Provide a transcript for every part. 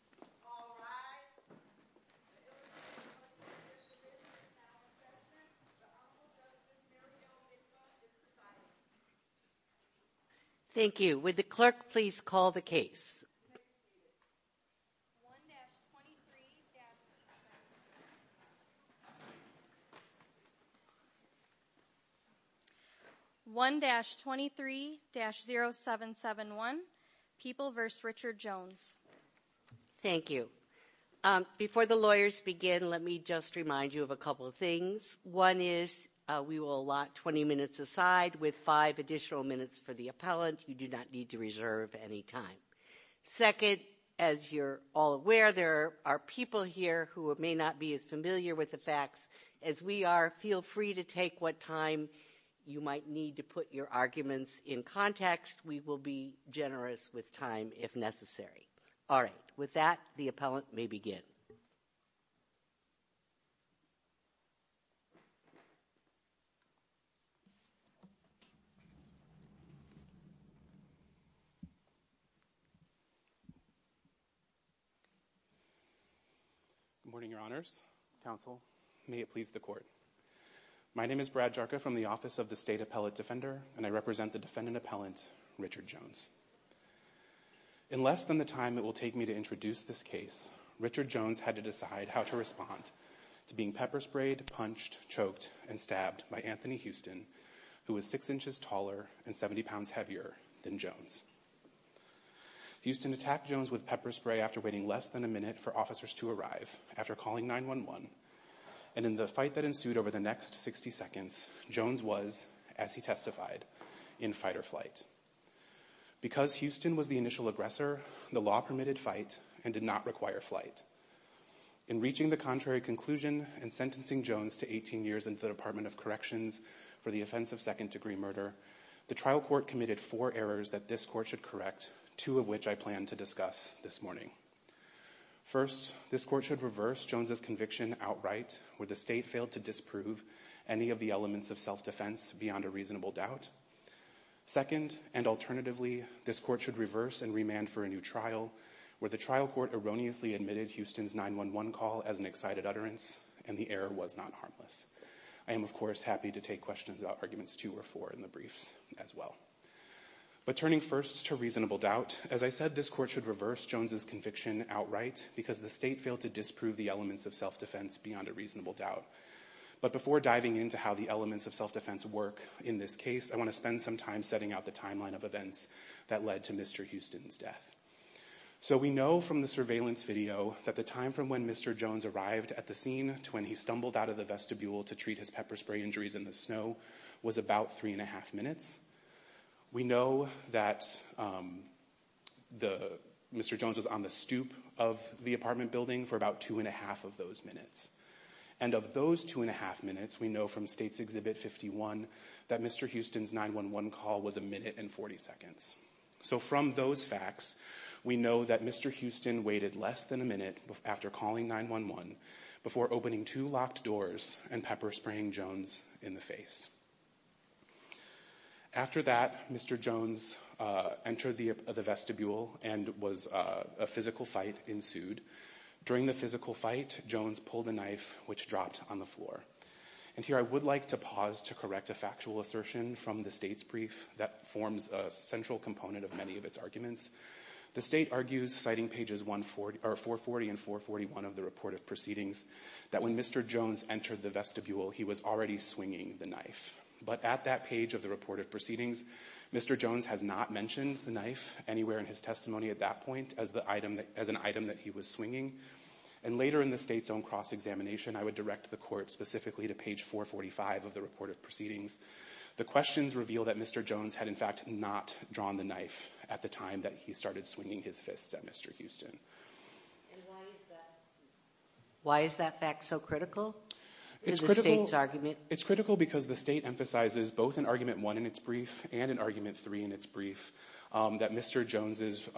1-23-0771 People v. Richard Jones 1-23-0771 People v. Richard Jones 1-23-0771 People v. Richard Jones 1-23-0771 People v. Richard Jones In less than the time it will take me to introduce this case, Richard Jones had to decide how to respond to being pepper-sprayed, punched, choked, and stabbed by Anthony Houston, who was 6 inches taller and 70 pounds heavier than Jones. Houston attacked Jones with pepper spray after waiting less than a minute for officers to arrive after calling 911, and in the fight that ensued over the next 60 seconds, Jones was, as he testified, in fight or flight. Because Houston was the initial aggressor, the law permitted fight and did not require flight. In reaching the contrary conclusion and sentencing Jones to 18 years in the Department of Corrections for the offense of second-degree murder, the trial court committed four errors that this court should correct, two of which I plan to discuss this morning. First, this court should reverse Jones' conviction outright, where the state failed to disprove any of the elements of self-defense beyond a reasonable doubt. Second, and alternatively, this court should reverse and remand for a new trial, where the trial court erroneously admitted Houston's 911 call as an excited utterance, and the error was not harmless. I am, of course, happy to take questions about Arguments 2 or 4 in the briefs as well. But turning first to reasonable doubt, as I said, this court should reverse Jones' conviction outright, because the state failed to disprove the elements of self-defense beyond a reasonable doubt. But before diving into how the elements of self-defense work in this case, I want to spend some time setting out the timeline of events that led to Mr. Houston's death. So we know from the surveillance video that the time from when Mr. Jones arrived at the scene to when he stumbled out of the vestibule to treat his pepper spray injuries in the snow was about three and a half minutes. We know that Mr. Jones was on the stoop of the apartment building for about two and a half of those minutes. And of those two and a half minutes, we know from State's Exhibit 51 that Mr. Houston's 911 call was a minute and 40 seconds. So from those facts, we know that Mr. Houston waited less than a minute after calling 911 before opening two locked doors and pepper spraying Jones in the face. After that, Mr. Jones entered the vestibule and a physical fight ensued. During the physical fight, Jones pulled a knife which dropped on the floor. And here I would like to pause to correct a factual assertion from the State's brief that forms a central component of many of its arguments. The State argues, citing pages 440 and 441 of the report of proceedings, that when Mr. Jones entered the vestibule, he was already swinging the knife. But at that page of the report of proceedings, Mr. Jones has not mentioned the knife anywhere in his testimony at that point as an item that he was swinging. And later in the State's own cross-examination, I would direct the Court specifically to page 445 of the report of proceedings. The questions reveal that Mr. Jones had in fact not drawn the knife at the time that he started swinging his fists at Mr. Houston. And why is that fact so critical in the State's argument? It's critical because the State emphasizes both in Argument 1 in its brief and in Argument 3 in its brief that Mr. Jones's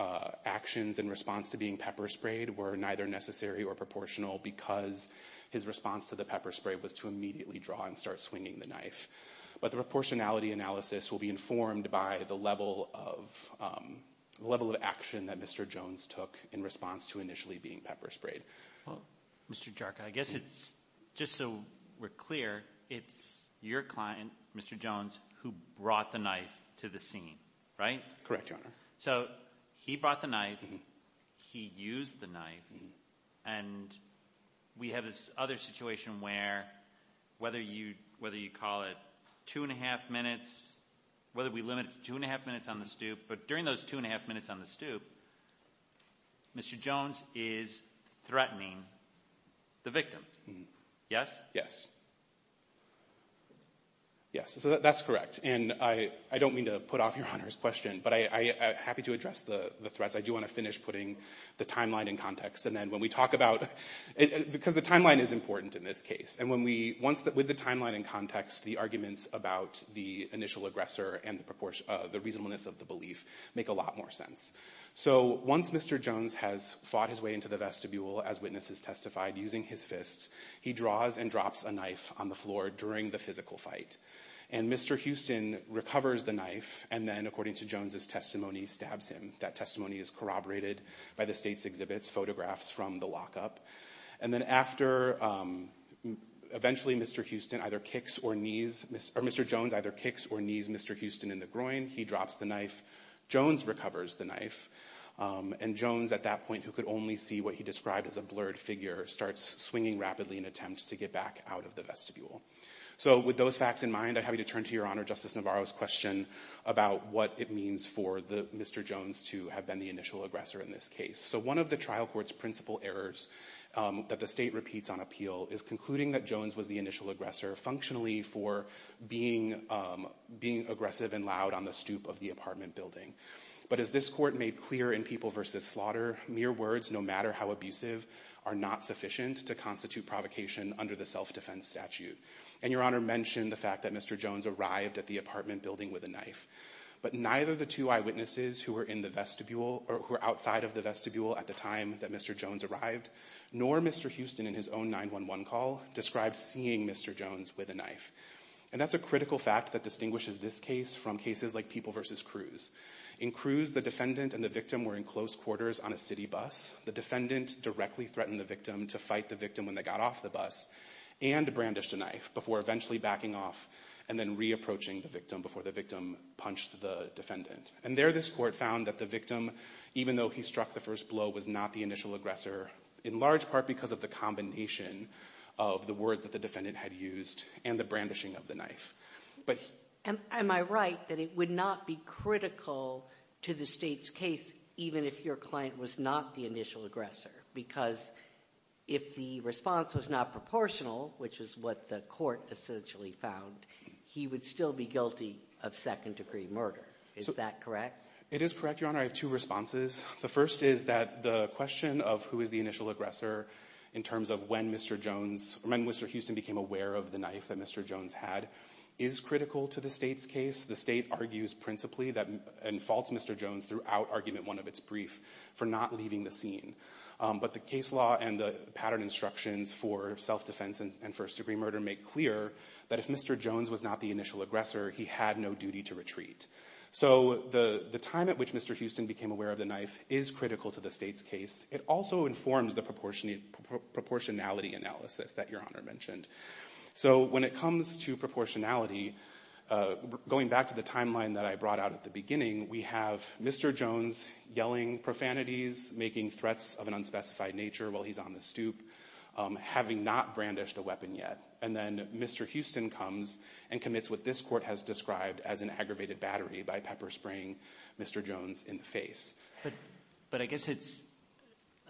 actions in response to being pepper-sprayed were neither necessary or proportional because his response to the pepper-spray was to immediately draw and start swinging the knife. But the proportionality analysis will be informed by the level of action that Mr. Jones took in response to initially being pepper-sprayed. Well, Mr. Jarka, I guess it's just so we're clear, it's your client, Mr. Jones, who brought the knife to the scene, right? Correct, Your Honor. So he brought the knife. He used the knife. And we have this other situation where whether you call it two and a half minutes, whether we limit it to two and a half minutes on the stoop, but during those two and a half minutes on the stoop, Mr. Jones is threatening the victim. Yes? Yes, so that's correct. And I don't mean to put off Your Honor's question, but I'm happy to address the threats. I do want to finish putting the timeline in context. And then when we talk about – because the timeline is important in this case. With the timeline in context, the arguments about the initial aggressor and the reasonableness of the belief make a lot more sense. So once Mr. Jones has fought his way into the vestibule, as witnesses testified, using his fists, he draws and drops a knife on the floor during the physical fight. And Mr. Houston recovers the knife and then, according to Jones's testimony, stabs him. That testimony is corroborated by the state's exhibits, photographs from the lockup. And then after – eventually Mr. Houston either kicks or knees – or Mr. Jones either kicks or knees Mr. Houston in the groin, he drops the knife. Jones recovers the knife. And Jones, at that point, who could only see what he described as a blurred figure, starts swinging rapidly in an attempt to get back out of the vestibule. So with those facts in mind, I'm happy to turn to Your Honor Justice Navarro's question about what it means for Mr. Jones to have been the initial aggressor in this case. So one of the trial court's principal errors that the state repeats on appeal is concluding that Jones was the initial aggressor functionally for being aggressive and loud on the stoop of the apartment building. But as this court made clear in People v. Slaughter, mere words, no matter how abusive, are not sufficient to constitute provocation under the self-defense statute. And Your Honor mentioned the fact that Mr. Jones arrived at the apartment building with a knife. But neither the two eyewitnesses who were outside of the vestibule at the time that Mr. Jones arrived, nor Mr. Houston in his own 911 call, described seeing Mr. Jones with a knife. And that's a critical fact that distinguishes this case from cases like People v. Cruz. In Cruz, the defendant and the victim were in close quarters on a city bus. The defendant directly threatened the victim to fight the victim when they got off the bus and brandished a knife before eventually backing off and then re-approaching the victim before the victim punched the defendant. And there this court found that the victim, even though he struck the first blow, was not the initial aggressor, in large part because of the combination of the words that the defendant had used and the brandishing of the knife. Am I right that it would not be critical to the State's case even if your client was not the initial aggressor? Because if the response was not proportional, which is what the court essentially found, he would still be guilty of second-degree murder. Is that correct? It is correct, Your Honor. I have two responses. The first is that the question of who is the initial aggressor, in terms of when Mr. Houston became aware of the knife that Mr. Jones had, is critical to the State's case. The State argues principally and faults Mr. Jones throughout Argument 1 of its brief for not leaving the scene. But the case law and the pattern instructions for self-defense and first-degree murder make clear that if Mr. Jones was not the initial aggressor, he had no duty to retreat. So the time at which Mr. Houston became aware of the knife is critical to the State's case. It also informs the proportionality analysis that Your Honor mentioned. So when it comes to proportionality, going back to the timeline that I brought out at the beginning, we have Mr. Jones yelling profanities, making threats of an unspecified nature while he's on the stoop, having not brandished a weapon yet. And then Mr. Houston comes and commits what this Court has described as an aggravated battery by pepper-spraying Mr. Jones in the face. But I guess it's,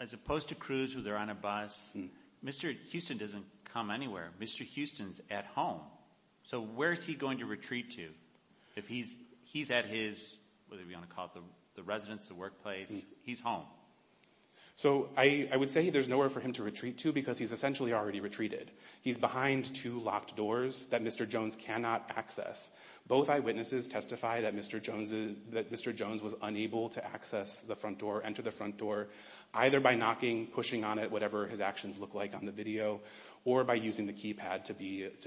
as opposed to Cruz, who they're on a bus, Mr. Houston doesn't come anywhere. Mr. Houston's at home. So where is he going to retreat to? If he's at his, whatever you want to call it, the residence, the workplace, he's home. So I would say there's nowhere for him to retreat to because he's essentially already retreated. He's behind two locked doors that Mr. Jones cannot access. Both eyewitnesses testify that Mr. Jones was unable to access the front door, enter the front door, either by knocking, pushing on it, whatever his actions look like on the video, or by using the keypad to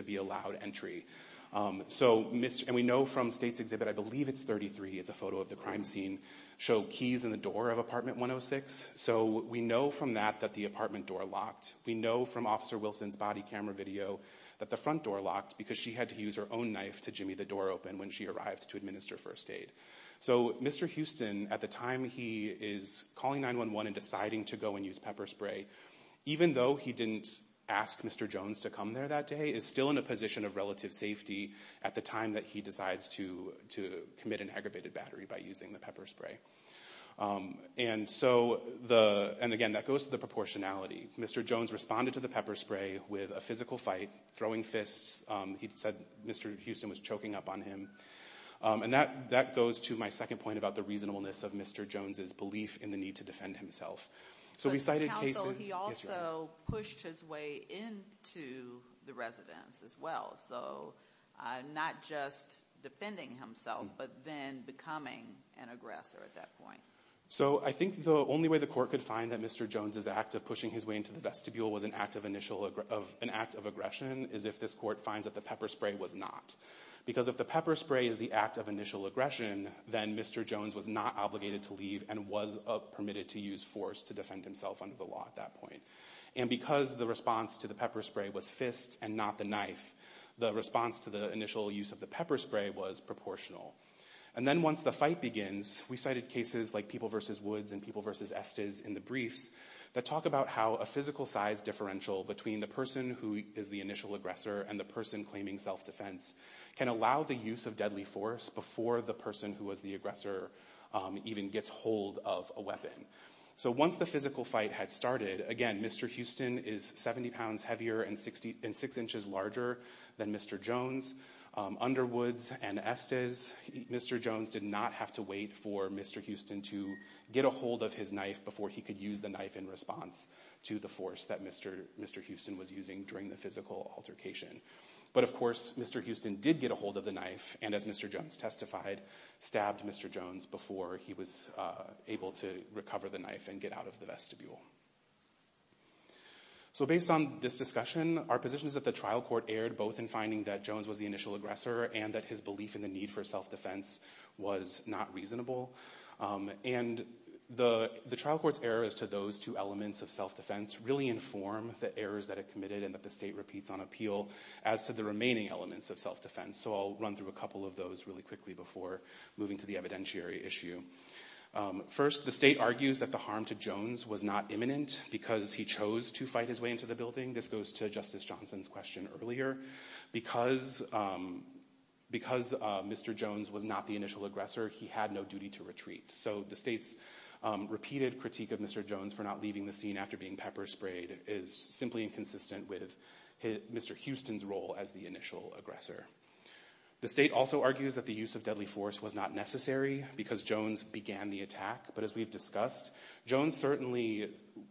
be allowed entry. And we know from State's exhibit, I believe it's 33, it's a photo of the crime scene, show keys in the door of apartment 106. So we know from that that the apartment door locked. We know from Officer Wilson's body camera video that the front door locked because she had to use her own knife to jimmy the door open when she arrived to administer first aid. So Mr. Houston, at the time he is calling 911 and deciding to go and use pepper spray, even though he didn't ask Mr. Jones to come there that day, is still in a position of relative safety at the time that he decides to commit an aggravated battery by using the pepper spray. And again, that goes to the proportionality. Mr. Jones responded to the pepper spray with a physical fight, throwing fists. He said Mr. Houston was choking up on him. And that goes to my second point about the reasonableness of Mr. Jones' belief in the need to defend himself. So we cited cases- But the counsel, he also pushed his way into the residence as well. So not just defending himself, but then becoming an aggressor at that point. So I think the only way the court could find that Mr. Jones' act of pushing his way into the vestibule was an act of aggression is if this court finds that the pepper spray was not. Because if the pepper spray is the act of initial aggression, then Mr. Jones was not obligated to leave and was permitted to use force to defend himself under the law at that point. And because the response to the pepper spray was fists and not the knife, the response to the initial use of the pepper spray was proportional. And then once the fight begins, we cited cases like People v. Woods and People v. Estes in the briefs that talk about how a physical size differential between the person who is the initial aggressor and the person claiming self-defense can allow the use of deadly force before the person who was the aggressor even gets hold of a weapon. So once the physical fight had started, again, Mr. Houston is 70 pounds heavier and six inches larger than Mr. Jones. Underwoods and Estes, Mr. Jones did not have to wait for Mr. Houston to get a hold of his knife before he could use the knife in response to the force that Mr. Houston was using during the physical altercation. But, of course, Mr. Houston did get a hold of the knife and, as Mr. Jones testified, stabbed Mr. Jones before he was able to recover the knife and get out of the vestibule. So based on this discussion, our position is that the trial court erred both in finding that Jones was the initial aggressor and that his belief in the need for self-defense was not reasonable. And the trial court's error as to those two elements of self-defense really inform the errors that it committed and that the state repeats on appeal as to the remaining elements of self-defense. So I'll run through a couple of those really quickly before moving to the evidentiary issue. First, the state argues that the harm to Jones was not imminent because he chose to fight his way into the building. This goes to Justice Johnson's question earlier. Because Mr. Jones was not the initial aggressor, he had no duty to retreat. So the state's repeated critique of Mr. Jones for not leaving the scene after being pepper-sprayed is simply inconsistent with Mr. Houston's role as the initial aggressor. The state also argues that the use of deadly force was not necessary because Jones began the attack. But as we've discussed, Jones certainly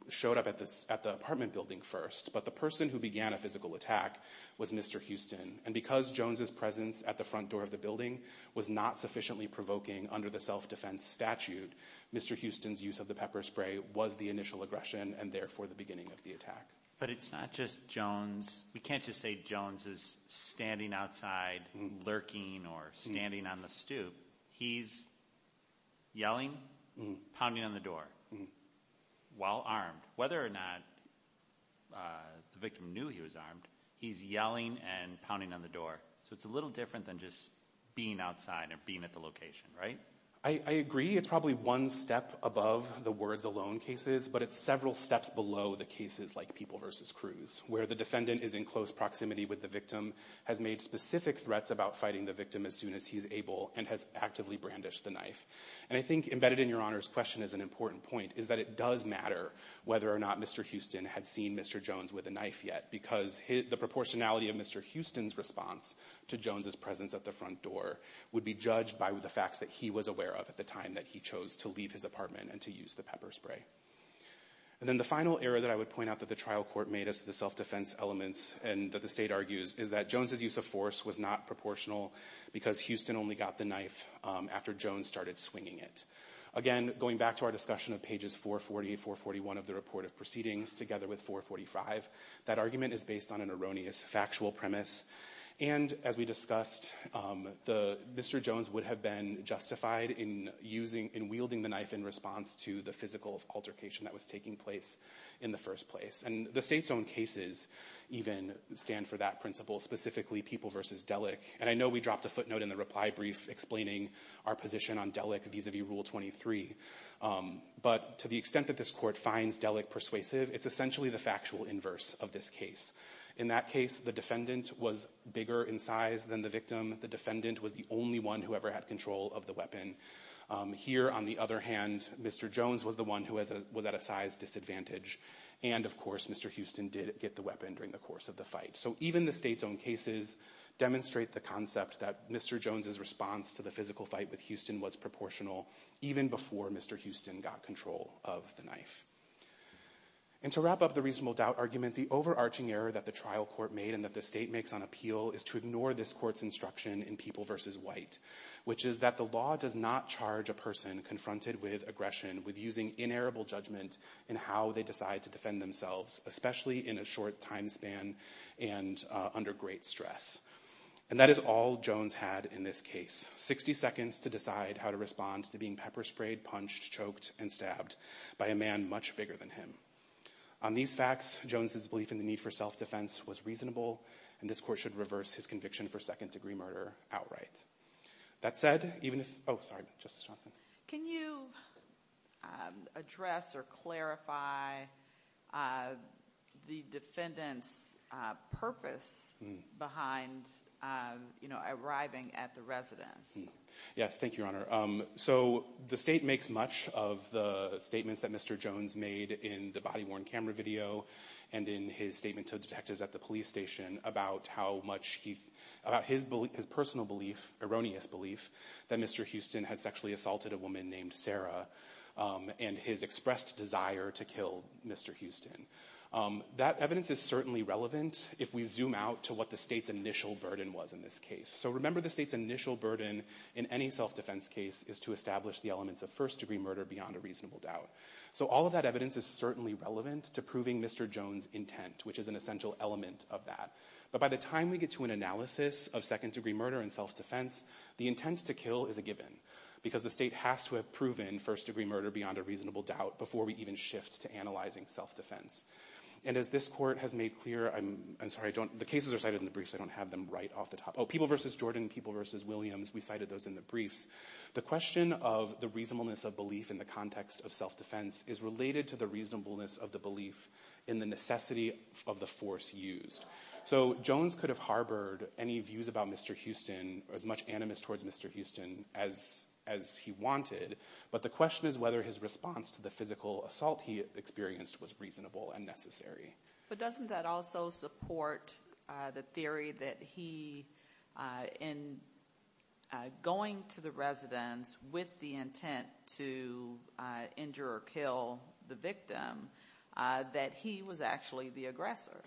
showed up at the apartment building first, but the person who began a physical attack was Mr. Houston. And because Jones' presence at the front door of the building was not sufficiently provoking under the self-defense statute, Mr. Houston's use of the pepper spray was the initial aggression and therefore the beginning of the attack. But it's not just Jones. We can't just say Jones is standing outside lurking or standing on the stoop. He's yelling, pounding on the door while armed. Whether or not the victim knew he was armed, he's yelling and pounding on the door. So it's a little different than just being outside or being at the location, right? I agree it's probably one step above the words alone cases, but it's several steps below the cases like people versus crews where the defendant is in close proximity with the victim, has made specific threats about fighting the victim as soon as he's able, and has actively brandished the knife. And I think embedded in Your Honor's question is an important point is that it does matter whether or not Mr. Houston had seen Mr. Jones with a knife yet because the proportionality of Mr. Houston's response to Jones' presence at the front door would be judged by the facts that he was aware of at the time that he chose to leave his apartment and to use the pepper spray. And then the final error that I would point out that the trial court made as the self-defense elements and that the state argues is that Jones' use of force was not proportional because Houston only got the knife after Jones started swinging it. Again, going back to our discussion of pages 440, 441 of the report of proceedings together with 445, that argument is based on an erroneous factual premise. And as we discussed, Mr. Jones would have been justified in wielding the knife in response to the physical altercation that was taking place in the first place. And the state's own cases even stand for that principle, specifically People v. Delick. And I know we dropped a footnote in the reply brief explaining our position on Delick vis-a-vis Rule 23. But to the extent that this court finds Delick persuasive, it's essentially the factual inverse of this case. In that case, the defendant was bigger in size than the victim. The defendant was the only one who ever had control of the weapon. Here, on the other hand, Mr. Jones was the one who was at a size disadvantage. And, of course, Mr. Houston did get the weapon during the course of the fight. So even the state's own cases demonstrate the concept that Mr. Jones' response to the physical fight with Houston was proportional even before Mr. Houston got control of the knife. And to wrap up the reasonable doubt argument, the overarching error that the trial court made and that the state makes on appeal is to ignore this court's instruction in People v. White, which is that the law does not charge a person confronted with aggression with using inerrable judgment in how they decide to defend themselves, especially in a short time span and under great stress. And that is all Jones had in this case, 60 seconds to decide how to respond to being pepper-sprayed, punched, choked, and stabbed by a man much bigger than him. On these facts, Jones' belief in the need for self-defense was reasonable, and this court should reverse his conviction for second-degree murder outright. That said, even if—oh, sorry, Justice Johnson. Can you address or clarify the defendant's purpose behind, you know, arriving at the residence? Yes, thank you, Your Honor. So the state makes much of the statements that Mr. Jones made in the body-worn camera video and in his statement to detectives at the police station about how much he—about his personal belief, erroneous belief, that Mr. Houston had sexually assaulted a woman named Sarah and his expressed desire to kill Mr. Houston. That evidence is certainly relevant if we zoom out to what the state's initial burden was in this case. So remember the state's initial burden in any self-defense case is to establish the elements of first-degree murder beyond a reasonable doubt. So all of that evidence is certainly relevant to proving Mr. Jones' intent, which is an essential element of that. But by the time we get to an analysis of second-degree murder and self-defense, the intent to kill is a given because the state has to have proven first-degree murder beyond a reasonable doubt before we even shift to analyzing self-defense. And as this court has made clear—I'm sorry, I don't—the cases are cited in the briefs. I don't have them right off the top. Oh, People v. Jordan, People v. Williams, we cited those in the briefs. The question of the reasonableness of belief in the context of self-defense is related to the reasonableness of the belief in the necessity of the force used. So Jones could have harbored any views about Mr. Houston, as much animus towards Mr. Houston as he wanted, but the question is whether his response to the physical assault he experienced was reasonable and necessary. But doesn't that also support the theory that he, in going to the residence with the intent to injure or kill the victim, that he was actually the aggressor?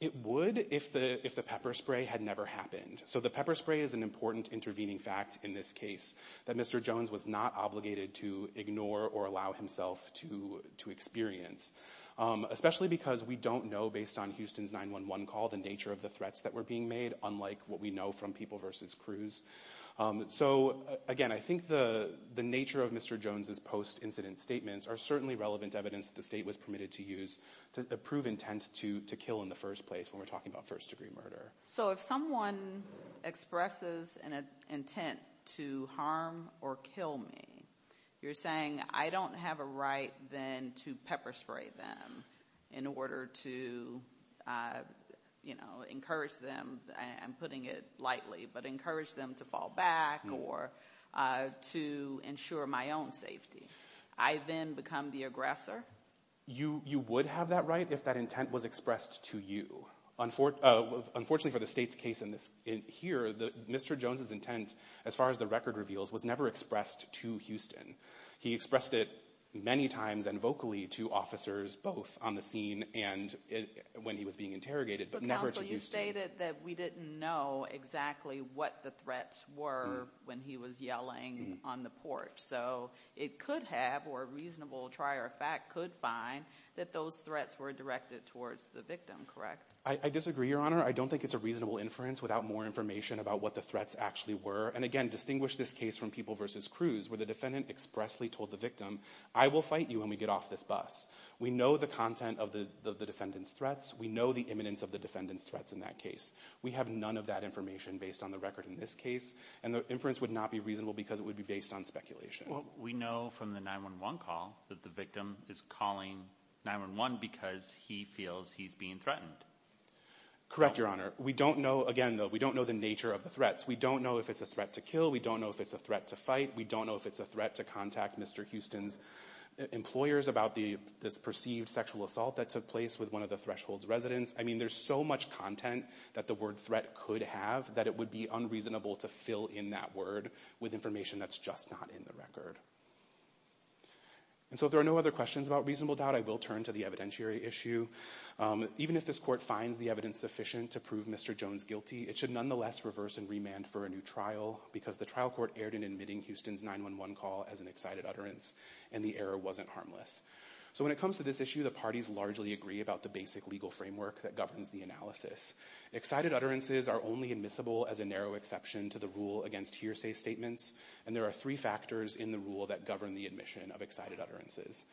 It would if the pepper spray had never happened. So the pepper spray is an important intervening fact in this case that Mr. Jones was not obligated to ignore or allow himself to experience, especially because we don't know, based on Houston's 911 call, the nature of the threats that were being made, unlike what we know from People v. Cruz. So, again, I think the nature of Mr. Jones' post-incident statements are certainly relevant evidence that the state was permitted to use to prove intent to kill in the first place when we're talking about first-degree murder. So if someone expresses an intent to harm or kill me, you're saying I don't have a right then to pepper spray them in order to encourage them. I'm putting it lightly, but encourage them to fall back or to ensure my own safety. I then become the aggressor? You would have that right if that intent was expressed to you. Unfortunately for the state's case here, Mr. Jones' intent, as far as the record reveals, was never expressed to Houston. He expressed it many times and vocally to officers, both on the scene and when he was being interrogated, but never to Houston. But, counsel, you stated that we didn't know exactly what the threats were when he was yelling on the porch. So it could have, or a reasonable trier of fact could find, that those threats were directed towards the victim, correct? I disagree, Your Honor. I don't think it's a reasonable inference without more information about what the threats actually were. And, again, distinguish this case from People v. Cruz, where the defendant expressly told the victim, I will fight you when we get off this bus. We know the content of the defendant's threats. We know the imminence of the defendant's threats in that case. We have none of that information based on the record in this case. And the inference would not be reasonable because it would be based on speculation. Well, we know from the 9-1-1 call that the victim is calling 9-1-1 because he feels he's being threatened. Correct, Your Honor. We don't know, again, though, we don't know the nature of the threats. We don't know if it's a threat to kill. We don't know if it's a threat to fight. We don't know if it's a threat to contact Mr. Houston's employers about this perceived sexual assault that took place with one of the Thresholds residents. I mean, there's so much content that the word threat could have that it would be unreasonable to fill in that word with information that's just not in the record. And so if there are no other questions about reasonable doubt, I will turn to the evidentiary issue. Even if this court finds the evidence sufficient to prove Mr. Jones guilty, it should nonetheless reverse and remand for a new trial because the trial court erred in admitting Houston's 9-1-1 call as an excited utterance and the error wasn't harmless. So when it comes to this issue, the parties largely agree about the basic legal framework that governs the analysis. Excited utterances are only admissible as a narrow exception to the rule against hearsay statements, and there are three factors in the rule that govern the admission of excited utterances.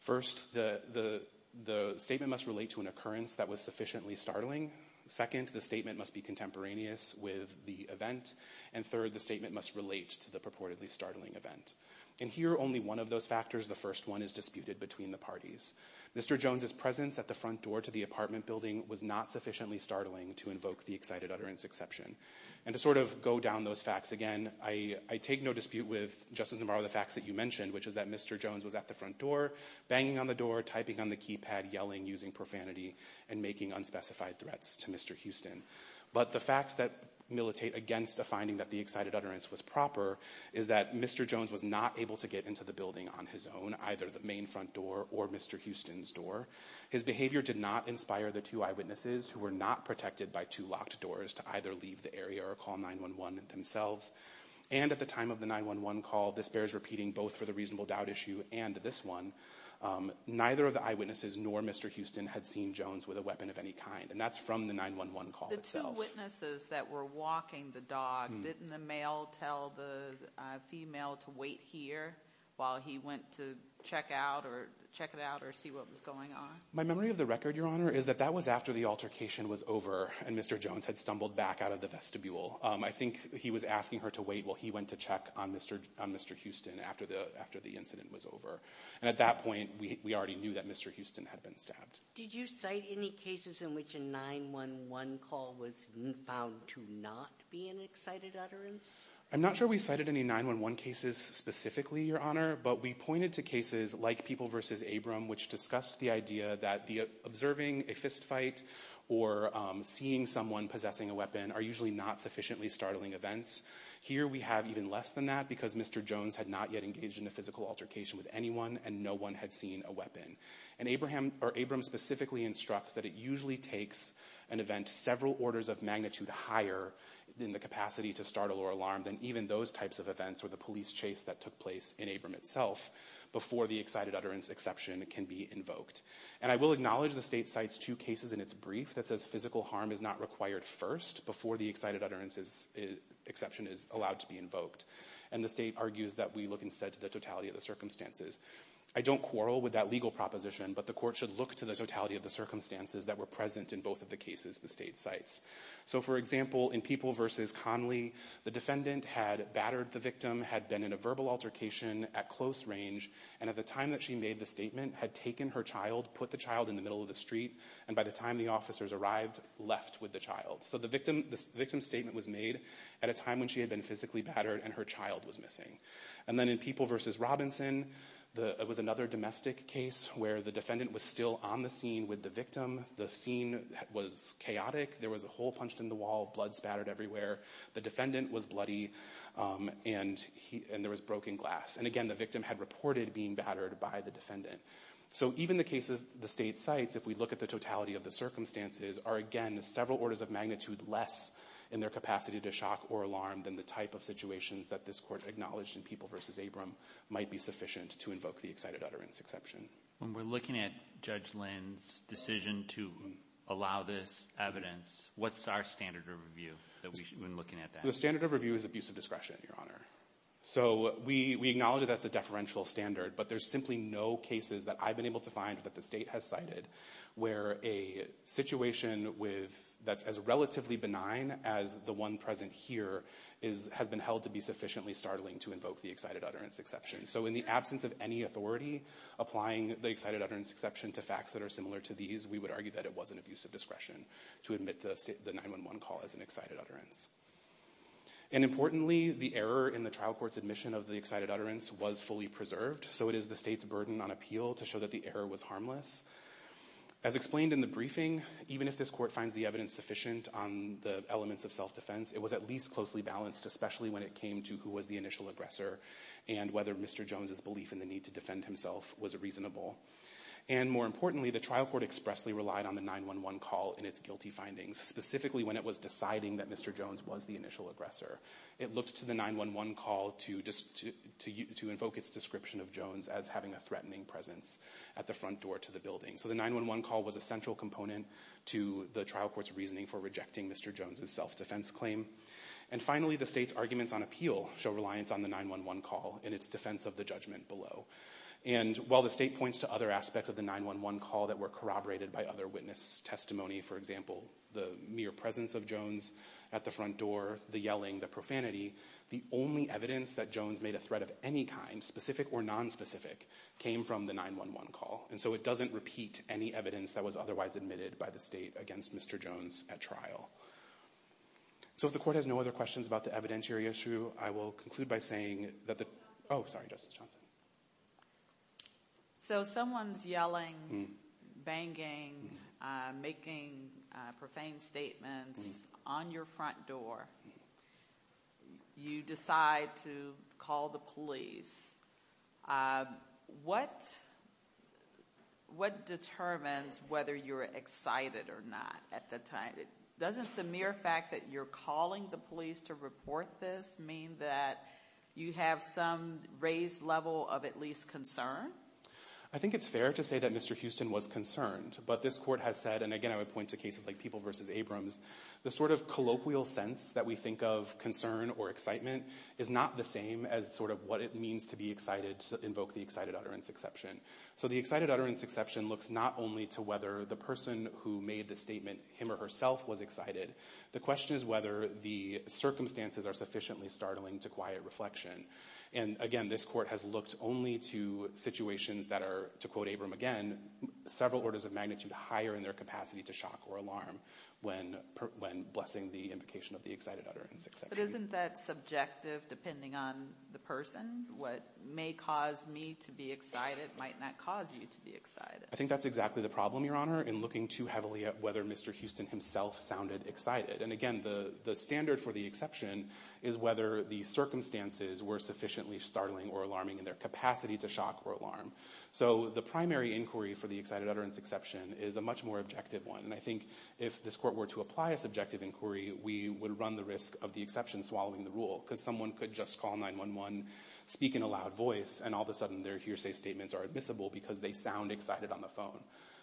First, the statement must relate to an occurrence that was sufficiently startling. Second, the statement must be contemporaneous with the event. And third, the statement must relate to the purportedly startling event. In here, only one of those factors, the first one, is disputed between the parties. Mr. Jones's presence at the front door to the apartment building was not sufficiently startling to invoke the excited utterance exception. And to sort of go down those facts again, I take no dispute with, Justice Navarro, the facts that you mentioned, which is that Mr. Jones was at the front door, banging on the door, typing on the keypad, yelling, using profanity, and making unspecified threats to Mr. Houston. But the facts that militate against a finding that the excited utterance was proper is that Mr. Jones was not able to get into the building on his own, either the main front door or Mr. Houston's door. His behavior did not inspire the two eyewitnesses, who were not protected by two locked doors, to either leave the area or call 911 themselves. And at the time of the 911 call, this bears repeating both for the reasonable doubt issue and this one, neither of the eyewitnesses nor Mr. Houston had seen Jones with a weapon of any kind. And that's from the 911 call itself. The two witnesses that were walking the dog, didn't the male tell the female to wait here while he went to check it out or see what was going on? My memory of the record, Your Honor, is that that was after the altercation was over and Mr. Jones had stumbled back out of the vestibule. I think he was asking her to wait while he went to check on Mr. Houston after the incident was over. And at that point, we already knew that Mr. Houston had been stabbed. Did you cite any cases in which a 911 call was found to not be an excited utterance? I'm not sure we cited any 911 cases specifically, Your Honor, but we pointed to cases like People v. Abram, which discussed the idea that observing a fistfight or seeing someone possessing a weapon are usually not sufficiently startling events. Here we have even less than that because Mr. Jones had not yet engaged in a physical altercation with anyone and no one had seen a weapon. And Abram specifically instructs that it usually takes an event several orders of magnitude higher in the capacity to startle or alarm than even those types of events or the police chase that took place in Abram itself before the excited utterance exception can be invoked. And I will acknowledge the State cites two cases in its brief that says physical harm is not required first before the excited utterance exception is allowed to be invoked. And the State argues that we look instead to the totality of the circumstances. I don't quarrel with that legal proposition, but the court should look to the totality of the circumstances that were present in both of the cases the State cites. So, for example, in People v. Conley, the defendant had battered the victim, had been in a verbal altercation at close range, and at the time that she made the statement had taken her child, put the child in the middle of the street, and by the time the officers arrived, left with the child. So the victim's statement was made at a time when she had been physically battered and her child was missing. And then in People v. Robinson, it was another domestic case where the defendant was still on the scene with the victim, the scene was chaotic, there was a hole punched in the wall, blood spattered everywhere, the defendant was bloody, and there was broken glass. And again, the victim had reported being battered by the defendant. So even the cases the State cites, if we look at the totality of the circumstances, are again several orders of magnitude less in their capacity to shock or alarm than the type of situations that this Court acknowledged in People v. Abram might be sufficient to invoke the excited utterance exception. When we're looking at Judge Lynn's decision to allow this evidence, what's our standard of review that we've been looking at? The standard of review is abusive discretion, Your Honor. So we acknowledge that that's a deferential standard, but there's simply no cases that I've been able to find that the State has cited where a situation that's as relatively benign as the one present here has been held to be sufficiently startling to invoke the excited utterance exception. So in the absence of any authority applying the excited utterance exception to facts that are similar to these, we would argue that it was an abusive discretion to admit the 911 call as an excited utterance. And importantly, the error in the trial court's admission of the excited utterance was fully preserved, so it is the State's burden on appeal to show that the error was harmless. As explained in the briefing, even if this Court finds the evidence sufficient on the elements of self-defense, it was at least closely balanced, especially when it came to who was the initial aggressor and whether Mr. Jones' belief in the need to defend himself was reasonable. And more importantly, the trial court expressly relied on the 911 call and its guilty findings, specifically when it was deciding that Mr. Jones was the initial aggressor. It looked to the 911 call to invoke its description of Jones as having a threatening presence at the front door to the building. So the 911 call was a central component to the trial court's reasoning for rejecting Mr. Jones' self-defense claim. And finally, the State's arguments on appeal show reliance on the 911 call in its defense of the judgment below. And while the State points to other aspects of the 911 call that were corroborated by other witness testimony, for example, the mere presence of Jones at the front door, the yelling, the profanity, the only evidence that Jones made a threat of any kind, specific or nonspecific, came from the 911 call. And so it doesn't repeat any evidence that was otherwise admitted by the State against Mr. Jones at trial. So if the court has no other questions about the evidentiary issue, I will conclude by saying that the... Oh, sorry, Justice Johnson. So someone's yelling, banging, making profane statements on your front door. You decide to call the police. What determines whether you're excited or not at the time? Doesn't the mere fact that you're calling the police to report this mean that you have some raised level of at least concern? I think it's fair to say that Mr. Houston was concerned, but this court has said, and again I would point to cases like People v. Abrams, the sort of colloquial sense that we think of concern or excitement is not the same as sort of what it means to be excited, to invoke the excited utterance exception. So the excited utterance exception looks not only to whether the person who made the statement, him or herself, was excited. The question is whether the circumstances are sufficiently startling to quiet reflection. And again, this court has looked only to situations that are, to quote Abrams again, several orders of magnitude higher in their capacity to shock or alarm when blessing the invocation of the excited utterance exception. But isn't that subjective depending on the person? What may cause me to be excited might not cause you to be excited. I think that's exactly the problem, Your Honor, in looking too heavily at whether Mr. Houston himself sounded excited. And again, the standard for the exception is whether the circumstances were sufficiently startling or alarming in their capacity to shock or alarm. So the primary inquiry for the excited utterance exception is a much more objective one. And I think if this court were to apply a subjective inquiry, we would run the risk of the exception swallowing the rule because someone could just call 911, speak in a loud voice, and all of a sudden their hearsay statements are admissible because they sound excited on the phone.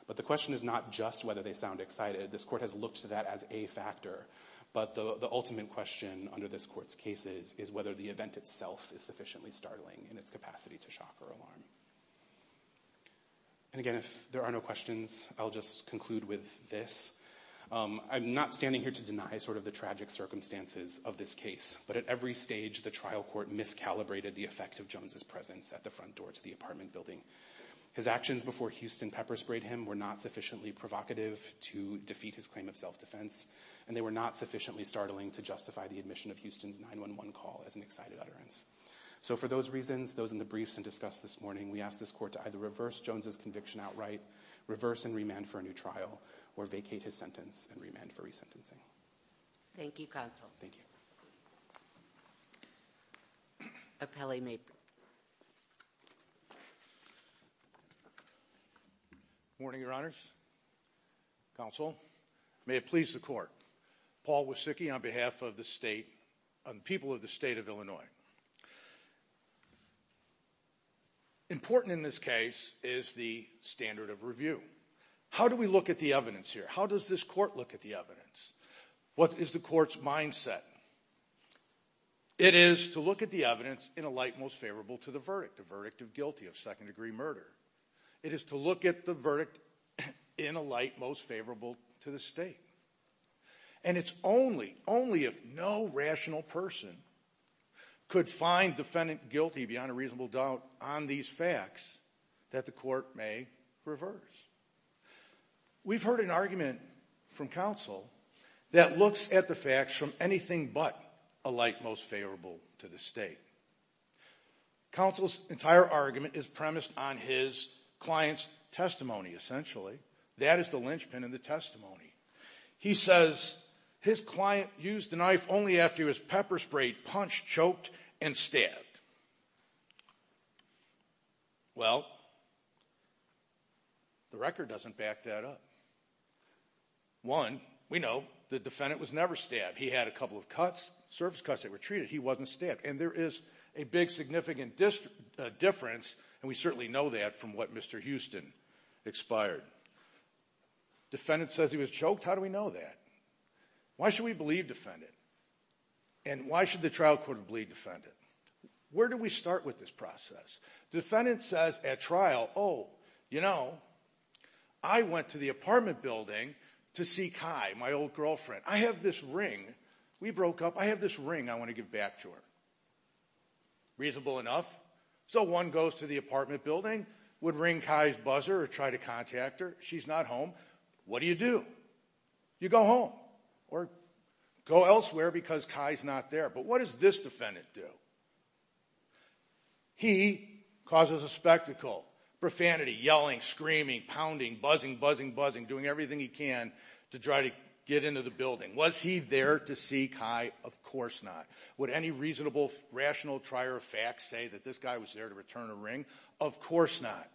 But the question is not just whether they sound excited. This court has looked to that as a factor. But the ultimate question under this court's case is whether the event itself is sufficiently startling in its capacity to shock or alarm. And again, if there are no questions, I'll just conclude with this. I'm not standing here to deny sort of the tragic circumstances of this case. But at every stage, the trial court miscalibrated the effect of Jones' presence at the front door to the apartment building. His actions before Houston pepper sprayed him were not sufficiently provocative to defeat his claim of self-defense, and they were not sufficiently startling to justify the admission of Houston's 911 call as an excited utterance. So for those reasons, those in the briefs and discussed this morning, we ask this court to either reverse Jones' conviction outright, reverse and remand for a new trial, or vacate his sentence and remand for resentencing. Thank you, counsel. Thank you. Appellee may proceed. Good morning, Your Honors. Counsel, may it please the court. Paul Wysicki on behalf of the people of the state of Illinois. Good morning. Important in this case is the standard of review. How do we look at the evidence here? How does this court look at the evidence? What is the court's mindset? It is to look at the evidence in a light most favorable to the verdict, the verdict of guilty of second-degree murder. It is to look at the verdict in a light most favorable to the state. And it's only, only if no rational person could find the defendant guilty beyond a reasonable doubt on these facts that the court may reverse. We've heard an argument from counsel that looks at the facts from anything but a light most favorable to the state. Counsel's entire argument is premised on his client's testimony, essentially. That is the linchpin in the testimony. He says his client used the knife only after he was pepper-sprayed, punched, choked, and stabbed. Well, the record doesn't back that up. One, we know the defendant was never stabbed. He had a couple of cuts, surface cuts that were treated. He wasn't stabbed. And there is a big significant difference, and we certainly know that from what Mr. Houston expired. Defendant says he was choked. How do we know that? Why should we believe defendant? And why should the trial court believe defendant? Where do we start with this process? Defendant says at trial, oh, you know, I went to the apartment building to see Kai, my old girlfriend. I have this ring. We broke up. I have this ring I want to give back to her. Reasonable enough? So one goes to the apartment building, would ring Kai's buzzer or try to contact her. She's not home. What do you do? You go home or go elsewhere because Kai's not there. But what does this defendant do? He causes a spectacle, profanity, yelling, screaming, pounding, buzzing, buzzing, buzzing, doing everything he can to try to get into the building. Was he there to see Kai? Of course not. Would any reasonable, rational trier of facts say that this guy was there to return a ring? Of course not.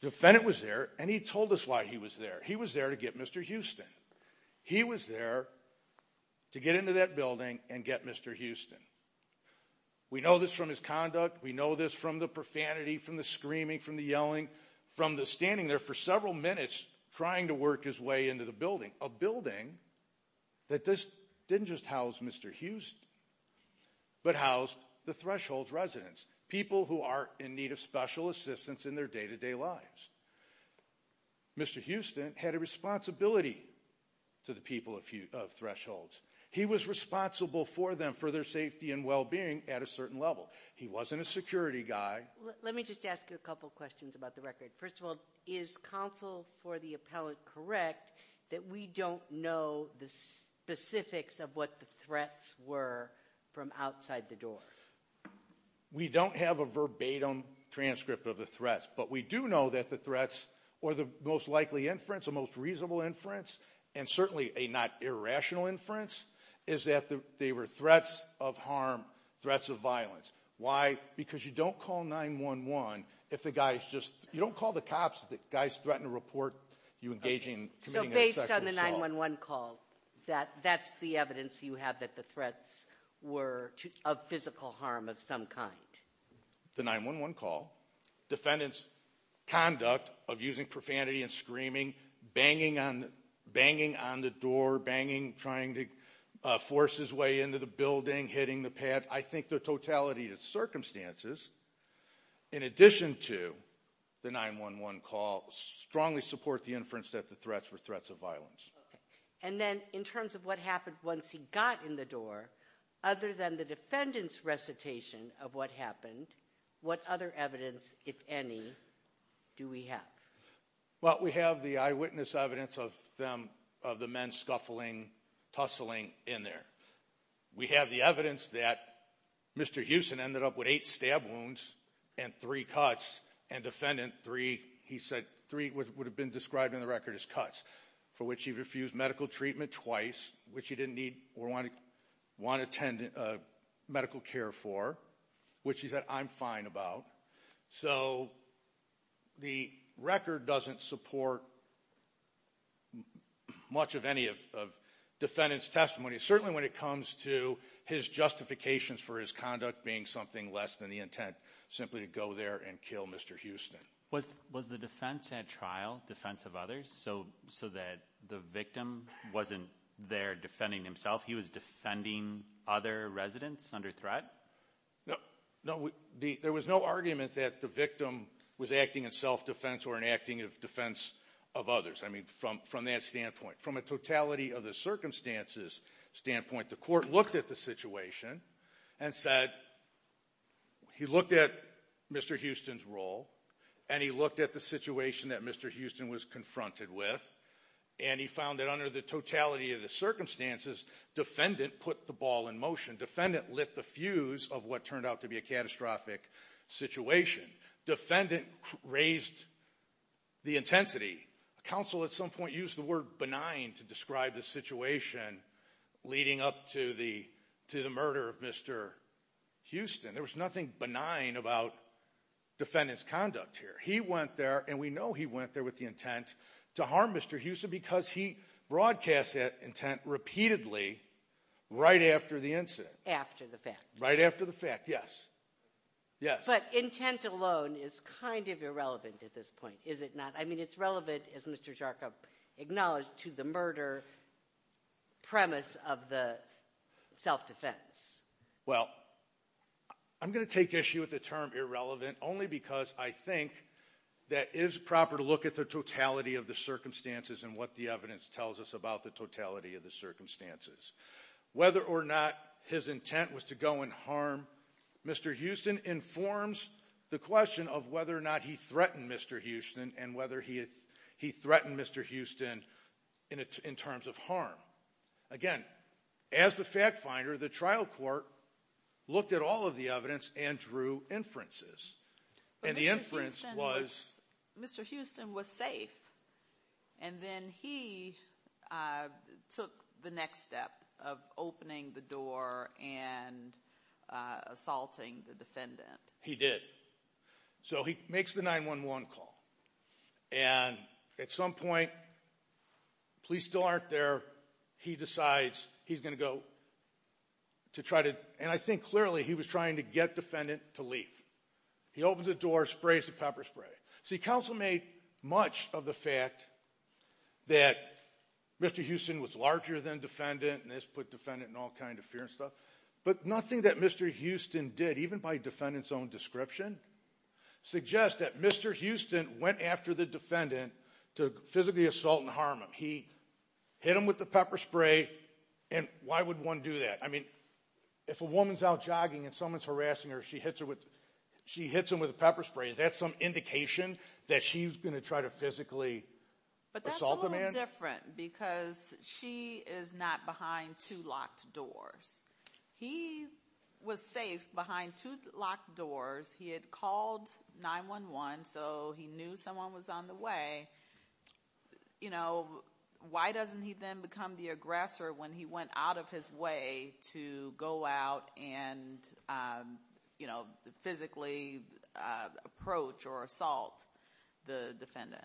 Defendant was there, and he told us why he was there. He was there to get Mr. Houston. He was there to get into that building and get Mr. Houston. We know this from his conduct. We know this from the profanity, from the screaming, from the yelling, from the standing there for several minutes trying to work his way into the building, a building that didn't just house Mr. Houston but housed the Thresholds residents, people who are in need of special assistance in their day-to-day lives. Mr. Houston had a responsibility to the people of Thresholds. He was responsible for them, for their safety and well-being at a certain level. He wasn't a security guy. Let me just ask you a couple questions about the record. First of all, is counsel for the appellant correct that we don't know the specifics of what the threats were from outside the door? We don't have a verbatim transcript of the threats, but we do know that the threats or the most likely inference, the most reasonable inference, and certainly a not irrational inference is that they were threats of harm, threats of violence. Why? Because you don't call 9-1-1 if the guy is just – you don't call the cops if the guy is threatening to report you engaging – So based on the 9-1-1 call, that's the evidence you have that the threats were of physical harm of some kind? The 9-1-1 call, defendant's conduct of using profanity and screaming, banging on the door, banging, trying to force his way into the building, hitting the pad. I think the totality of circumstances, in addition to the 9-1-1 call, strongly support the inference that the threats were threats of violence. And then in terms of what happened once he got in the door, other than the defendant's recitation of what happened, what other evidence, if any, do we have? Well, we have the eyewitness evidence of the men scuffling, tussling in there. We have the evidence that Mr. Hewson ended up with eight stab wounds and three cuts, and defendant three – he said three would have been described in the record as cuts, for which he refused medical treatment twice, which he didn't need or want medical care for, which he said, I'm fine about. So the record doesn't support much of any of defendant's testimony. Certainly when it comes to his justifications for his conduct being something less than the intent, simply to go there and kill Mr. Houston. Was the defense at trial defense of others, so that the victim wasn't there defending himself? He was defending other residents under threat? No. There was no argument that the victim was acting in self-defense or in acting in defense of others from that standpoint. From a totality of the circumstances standpoint, the court looked at the situation and said he looked at Mr. Houston's role, and he looked at the situation that Mr. Houston was confronted with, and he found that under the totality of the circumstances, defendant put the ball in motion. Defendant lit the fuse of what turned out to be a catastrophic situation. Defendant raised the intensity. Counsel at some point used the word benign to describe the situation leading up to the murder of Mr. Houston. There was nothing benign about defendant's conduct here. He went there, and we know he went there with the intent to harm Mr. Houston because he broadcast that intent repeatedly right after the incident. After the fact. Right after the fact, yes. But intent alone is kind of irrelevant at this point, is it not? I mean it's relevant, as Mr. Jarkub acknowledged, to the murder premise of the self-defense. Well, I'm going to take issue with the term irrelevant only because I think that it is proper to look at the totality of the circumstances and what the evidence tells us about the totality of the circumstances. Whether or not his intent was to go and harm Mr. Houston informs the question of whether or not he threatened Mr. Houston and whether he threatened Mr. Houston in terms of harm. Again, as the fact finder, the trial court looked at all of the evidence and drew inferences. But Mr. Houston was safe, and then he took the next step of opening the door and assaulting the defendant. He did. So he makes the 911 call, and at some point, police still aren't there. He decides he's going to go. And I think clearly he was trying to get defendant to leave. He opens the door, sprays the pepper spray. See, counsel made much of the fact that Mr. Houston was larger than defendant, and this put defendant in all kinds of fear and stuff, but nothing that Mr. Houston did, even by defendant's own description, suggests that Mr. Houston went after the defendant to physically assault and harm him. He hit him with the pepper spray, and why would one do that? I mean, if a woman's out jogging and someone's harassing her, she hits them with a pepper spray. Is that some indication that she's going to try to physically assault the man? But that's a little different because she is not behind two locked doors. He was safe behind two locked doors. He had called 911, so he knew someone was on the way. You know, why doesn't he then become the aggressor when he went out of his way to go out and, you know, physically approach or assault the defendant?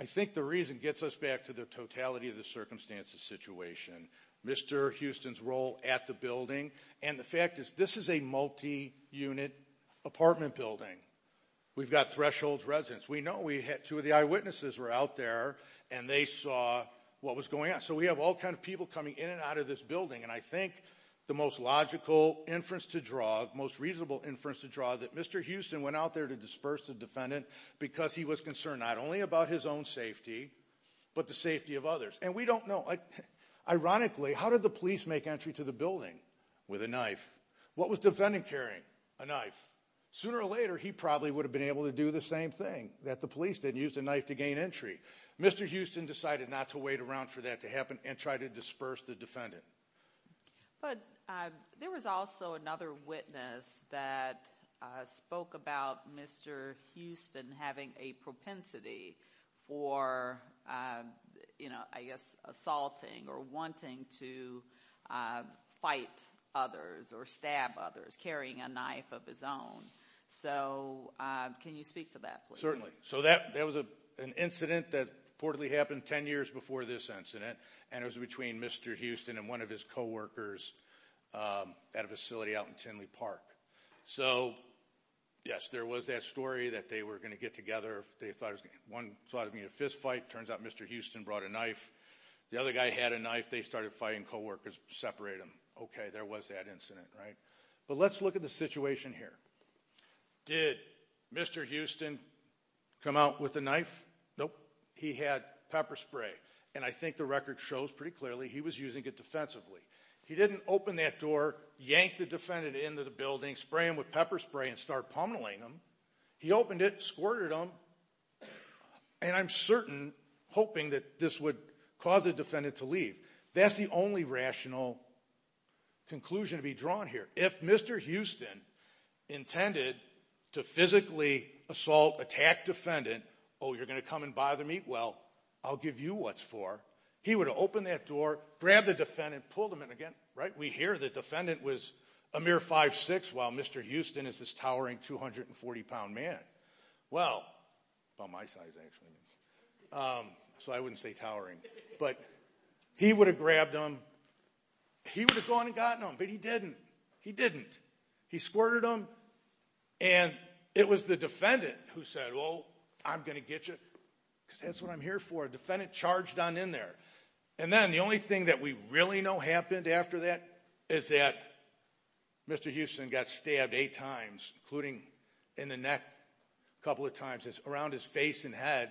I think the reason gets us back to the totality of the circumstances situation, Mr. Houston's role at the building, and the fact is this is a multi-unit apartment building. We've got thresholds residents. We know two of the eyewitnesses were out there, and they saw what was going on. So we have all kind of people coming in and out of this building, and I think the most logical inference to draw, the most reasonable inference to draw, that Mr. Houston went out there to disperse the defendant because he was concerned not only about his own safety, but the safety of others, and we don't know. Ironically, how did the police make entry to the building? With a knife. What was defendant carrying? A knife. Sooner or later, he probably would have been able to do the same thing, that the police didn't use the knife to gain entry. Mr. Houston decided not to wait around for that to happen and tried to disperse the defendant. But there was also another witness that spoke about Mr. Houston having a propensity for, you know, I guess assaulting or wanting to fight others or stab others, carrying a knife of his own. So can you speak to that, please? So that was an incident that reportedly happened ten years before this incident, and it was between Mr. Houston and one of his coworkers at a facility out in Tinley Park. So, yes, there was that story that they were going to get together. One thought it would be a fist fight. Turns out Mr. Houston brought a knife. The other guy had a knife. They started fighting. Coworkers separated them. Okay, there was that incident, right? But let's look at the situation here. Did Mr. Houston come out with a knife? Nope. He had pepper spray, and I think the record shows pretty clearly he was using it defensively. He didn't open that door, yank the defendant into the building, spray him with pepper spray and start pummeling him. He opened it, squirted him, and I'm certain hoping that this would cause the defendant to leave. That's the only rational conclusion to be drawn here. If Mr. Houston intended to physically assault, attack defendant, oh, you're going to come and bother me? Well, I'll give you what's for. He would have opened that door, grabbed the defendant, pulled him in again, right? We hear the defendant was a mere 5'6", while Mr. Houston is this towering 240-pound man. Well, about my size, actually, so I wouldn't say towering. But he would have grabbed him. He would have gone and gotten him, but he didn't. He didn't. He squirted him, and it was the defendant who said, oh, I'm going to get you, because that's what I'm here for. The defendant charged on in there. And then the only thing that we really know happened after that is that Mr. Houston got stabbed eight times, including in the neck a couple of times, around his face and head,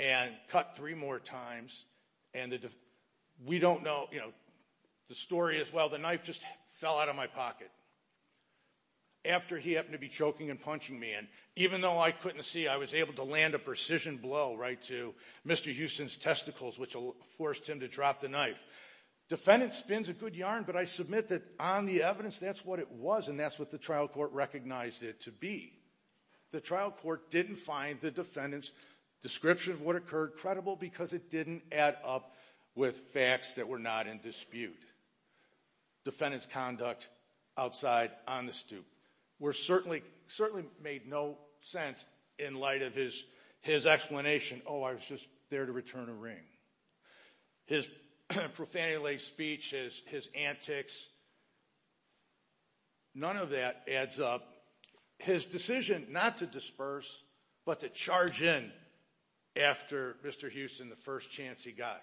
and cut three more times. And we don't know the story as well. The knife just fell out of my pocket after he happened to be choking and punching me. And even though I couldn't see, I was able to land a precision blow right to Mr. Houston's testicles, which forced him to drop the knife. Defendant spins a good yarn, but I submit that on the evidence, that's what it was, and that's what the trial court recognized it to be. The trial court didn't find the defendant's description of what occurred credible because it didn't add up with facts that were not in dispute. Defendant's conduct outside on the stoop. Certainly made no sense in light of his explanation, oh, I was just there to return a ring. His profanity-laced speech, his antics, none of that adds up. His decision not to disperse, but to charge in after Mr. Houston, the first chance he got.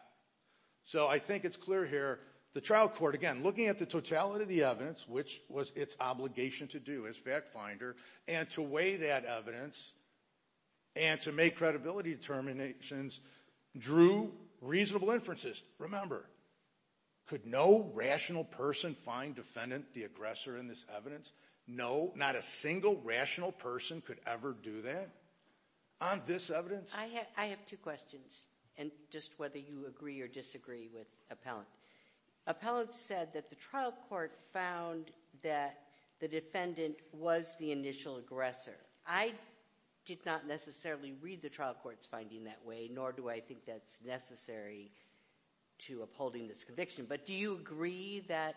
So I think it's clear here, the trial court, again, looking at the totality of the evidence, which was its obligation to do as fact finder, and to weigh that evidence and to make credibility determinations, drew reasonable inferences. Remember, could no rational person find defendant the aggressor in this evidence? No, not a single rational person could ever do that on this evidence. I have two questions, and just whether you agree or disagree with Appellant. Appellant said that the trial court found that the defendant was the initial aggressor. I did not necessarily read the trial court's finding that way, nor do I think that's necessary to upholding this conviction. But do you agree that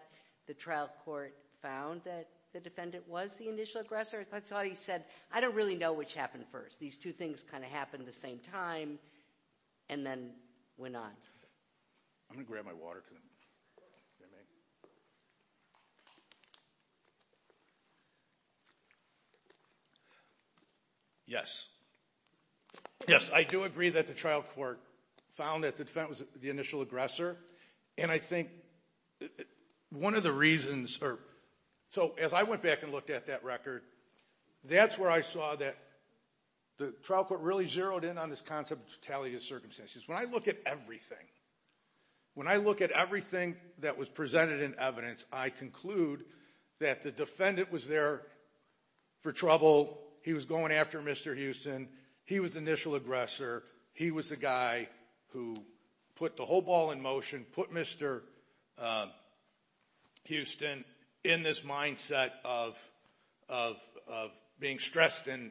the trial court found that the defendant was the initial aggressor? I thought he said, I don't really know which happened first. These two things kind of happened at the same time and then went on. I'm going to grab my water. Yes. Yes, I do agree that the trial court found that the defendant was the initial aggressor. And I think one of the reasons, or so as I went back and looked at that record, that's where I saw that the trial court really zeroed in on this concept of totality of circumstances. When I look at everything, when I look at everything that was presented in evidence, I conclude that the defendant was there for trouble, he was going after Mr. Houston, he was the initial aggressor, he was the guy who put the whole ball in motion, put Mr. Houston in this mindset of being stressed and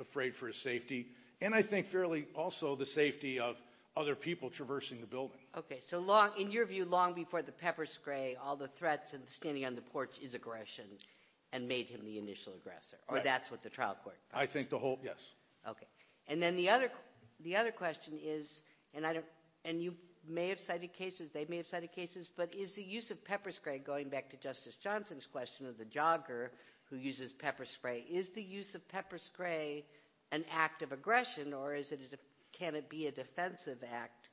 afraid for his safety, and I think fairly also the safety of other people traversing the building. Okay, so in your view, long before the pepper spray, all the threats and standing on the porch is aggression and made him the initial aggressor, or that's what the trial court found? I think the whole, yes. Okay. And then the other question is, and you may have cited cases, they may have cited cases, but is the use of pepper spray, going back to Justice Johnson's question of the jogger who uses pepper spray, is the use of pepper spray an act of aggression or can it be a defensive act?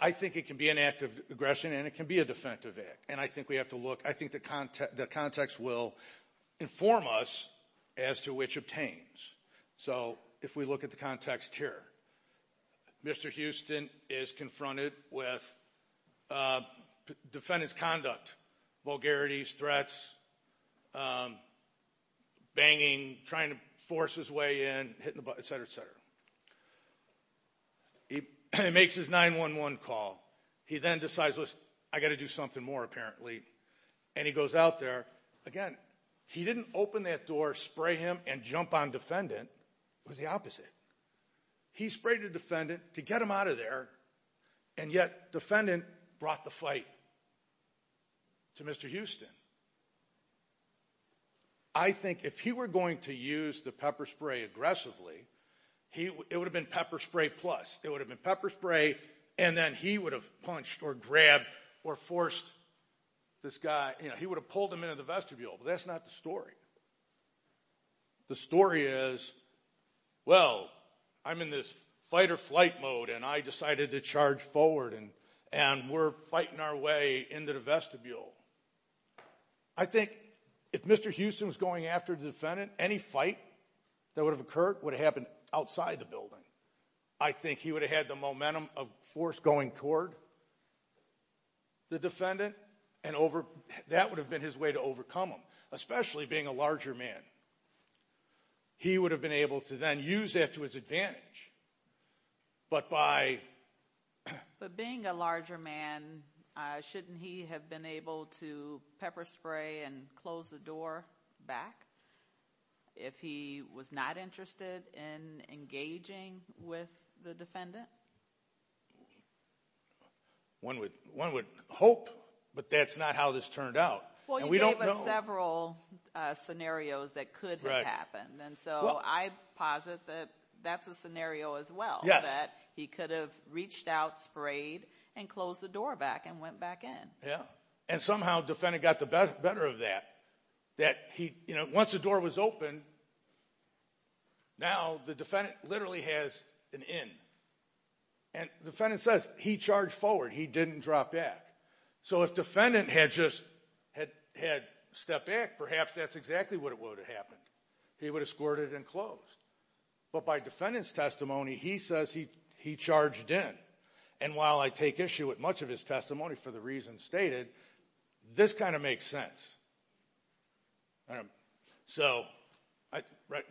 I think it can be an act of aggression and it can be a defensive act, and I think we have to look. I think the context will inform us as to which obtains. So if we look at the context here, Mr. Houston is confronted with defendant's conduct, vulgarities, threats, banging, trying to force his way in, hitting the butt, et cetera, et cetera. He makes his 911 call. He then decides, listen, I've got to do something more apparently, and he goes out there. Again, he didn't open that door, spray him, and jump on defendant. It was the opposite. He sprayed the defendant to get him out of there, and yet defendant brought the fight to Mr. Houston. I think if he were going to use the pepper spray aggressively, it would have been pepper spray plus. It would have been pepper spray and then he would have punched or grabbed or forced this guy. He would have pulled him into the vestibule, but that's not the story. The story is, well, I'm in this fight or flight mode, and I decided to charge forward, and we're fighting our way into the vestibule. I think if Mr. Houston was going after the defendant, any fight that would have occurred would have happened outside the building. I think he would have had the momentum of force going toward the defendant, and that would have been his way to overcome him, especially being a larger man. He would have been able to then use that to his advantage, but by— But being a larger man, shouldn't he have been able to pepper spray and close the door back if he was not interested in engaging with the defendant? One would hope, but that's not how this turned out. Well, you gave us several scenarios that could have happened, and so I posit that that's a scenario as well, that he could have reached out, sprayed, and closed the door back and went back in. Yeah, and somehow the defendant got the better of that. Once the door was open, now the defendant literally has an in, and the defendant says he charged forward, he didn't drop back. So if the defendant had just stepped back, perhaps that's exactly what would have happened. He would have squirted and closed. But by defendant's testimony, he says he charged in, and while I take issue with much of his testimony for the reasons stated, this kind of makes sense. So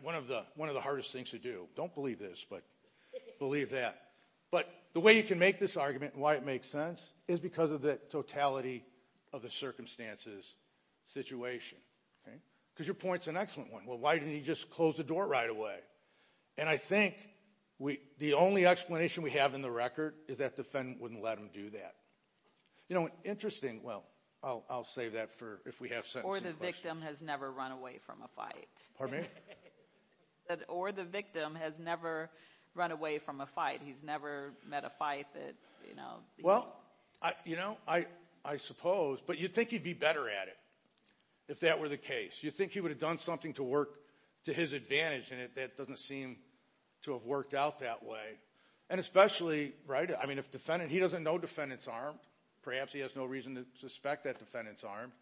one of the hardest things to do. Don't believe this, but believe that. But the way you can make this argument and why it makes sense is because of the totality of the circumstances, situation. Because your point's an excellent one. Well, why didn't he just close the door right away? And I think the only explanation we have in the record is that defendant wouldn't let him do that. You know, interesting, well, I'll save that for if we have sentencing questions. Or the victim has never run away from a fight. Pardon me? Or the victim has never run away from a fight. He's never met a fight that, you know. Well, you know, I suppose, but you'd think he'd be better at it if that were the case. You'd think he would have done something to work to his advantage, and it doesn't seem to have worked out that way. And especially, right, I mean, if defendant, he doesn't know defendant's armed. Perhaps he has no reason to suspect that defendant's armed.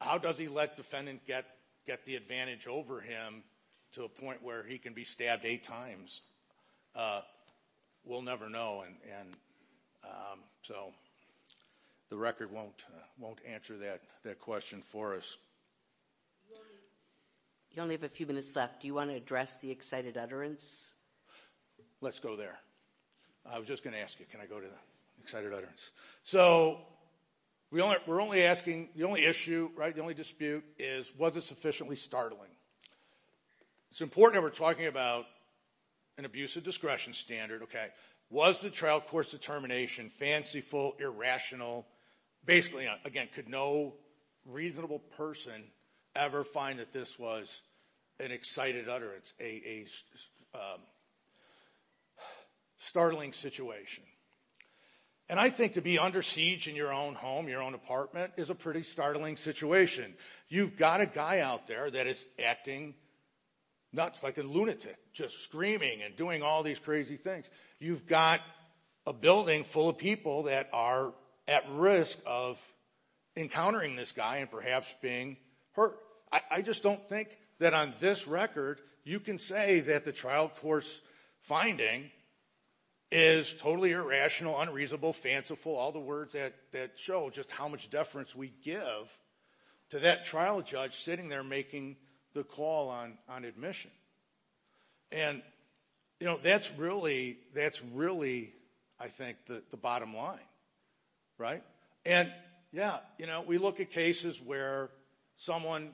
How does he let defendant get the advantage over him to a point where he can be stabbed eight times? We'll never know. And so the record won't answer that question for us. You only have a few minutes left. Do you want to address the excited utterance? Let's go there. I was just going to ask you, can I go to the excited utterance? So we're only asking, the only issue, right, the only dispute is was it sufficiently startling? It's important that we're talking about an abusive discretion standard, okay? Was the trial court's determination fanciful, irrational? Basically, again, could no reasonable person ever find that this was an excited utterance, a startling situation? And I think to be under siege in your own home, your own apartment, is a pretty startling situation. You've got a guy out there that is acting nuts like a lunatic, just screaming and doing all these crazy things. You've got a building full of people that are at risk of encountering this guy and perhaps being hurt. I just don't think that on this record you can say that the trial court's finding is totally irrational, unreasonable, fanciful, all the words that show just how much deference we give to that trial judge sitting there making the call on admission. And, you know, that's really, that's really, I think, the bottom line, right? And, yeah, you know, we look at cases where someone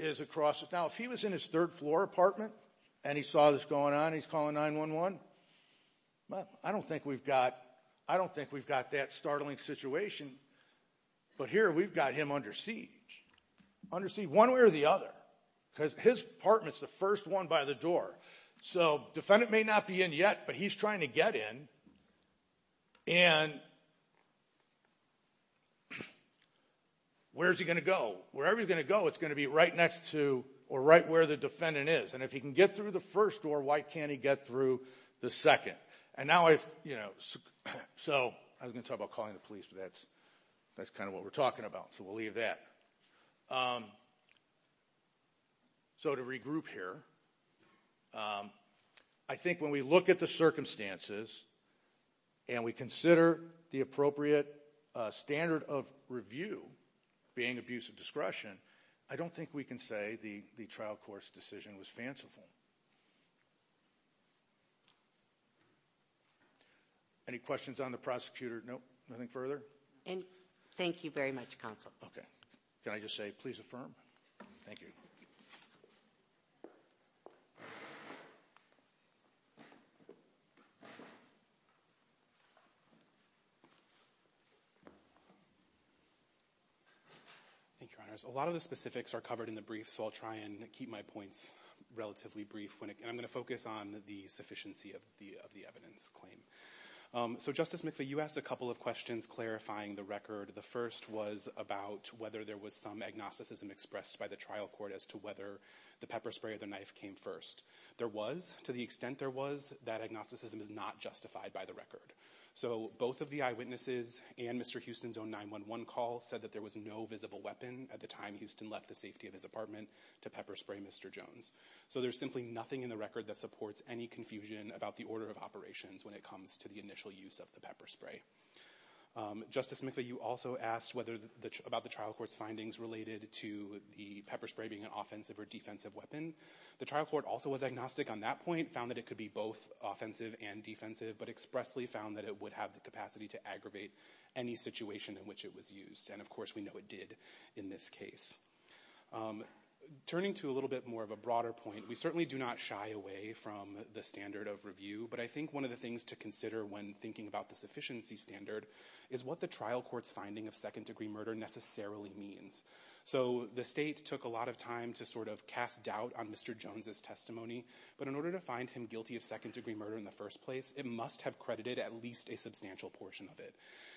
is across the, now if he was in his third floor apartment and he saw this going on and he's calling 911, well, I don't think we've got, I don't think we've got that startling situation. But here we've got him under siege. Under siege one way or the other, because his apartment's the first one by the door. So defendant may not be in yet, but he's trying to get in. And where's he going to go? Wherever he's going to go, it's going to be right next to or right where the defendant is. And if he can get through the first door, why can't he get through the second? Okay, and now I've, you know, so I was going to talk about calling the police, but that's kind of what we're talking about, so we'll leave that. So to regroup here, I think when we look at the circumstances and we consider the appropriate standard of review being abuse of discretion, I don't think we can say the trial court's decision was fanciful. Any questions on the prosecutor? Nope, nothing further? And thank you very much, counsel. Okay, can I just say please affirm? Thank you. Thank you, Your Honors. A lot of the specifics are covered in the brief, so I'll try and keep my points relatively brief. And I'm going to focus on the sufficiency of the evidence claim. So Justice McPhee, you asked a couple of questions clarifying the record. The first was about whether there was some agnosticism expressed by the trial court as to whether the pepper spray or the knife came first. There was, to the extent there was, that agnosticism is not justified by the record. So both of the eyewitnesses and Mr. Houston's own 911 call said that there was no visible weapon at the time Houston left the safety of his apartment to pepper spray Mr. Jones. So there's simply nothing in the record that supports any confusion about the order of operations when it comes to the initial use of the pepper spray. Justice McPhee, you also asked about the trial court's findings related to the pepper spray being an offensive or defensive weapon. The trial court also was agnostic on that point, found that it could be both offensive and defensive, but expressly found that it would have the capacity to aggravate any situation in which it was used. And of course we know it did in this case. Turning to a little bit more of a broader point, we certainly do not shy away from the standard of review, but I think one of the things to consider when thinking about the sufficiency standard is what the trial court's finding of second-degree murder necessarily means. So the state took a lot of time to sort of cast doubt on Mr. Jones's testimony, but in order to find him guilty of second-degree murder in the first place, it must have credited at least a substantial portion of it.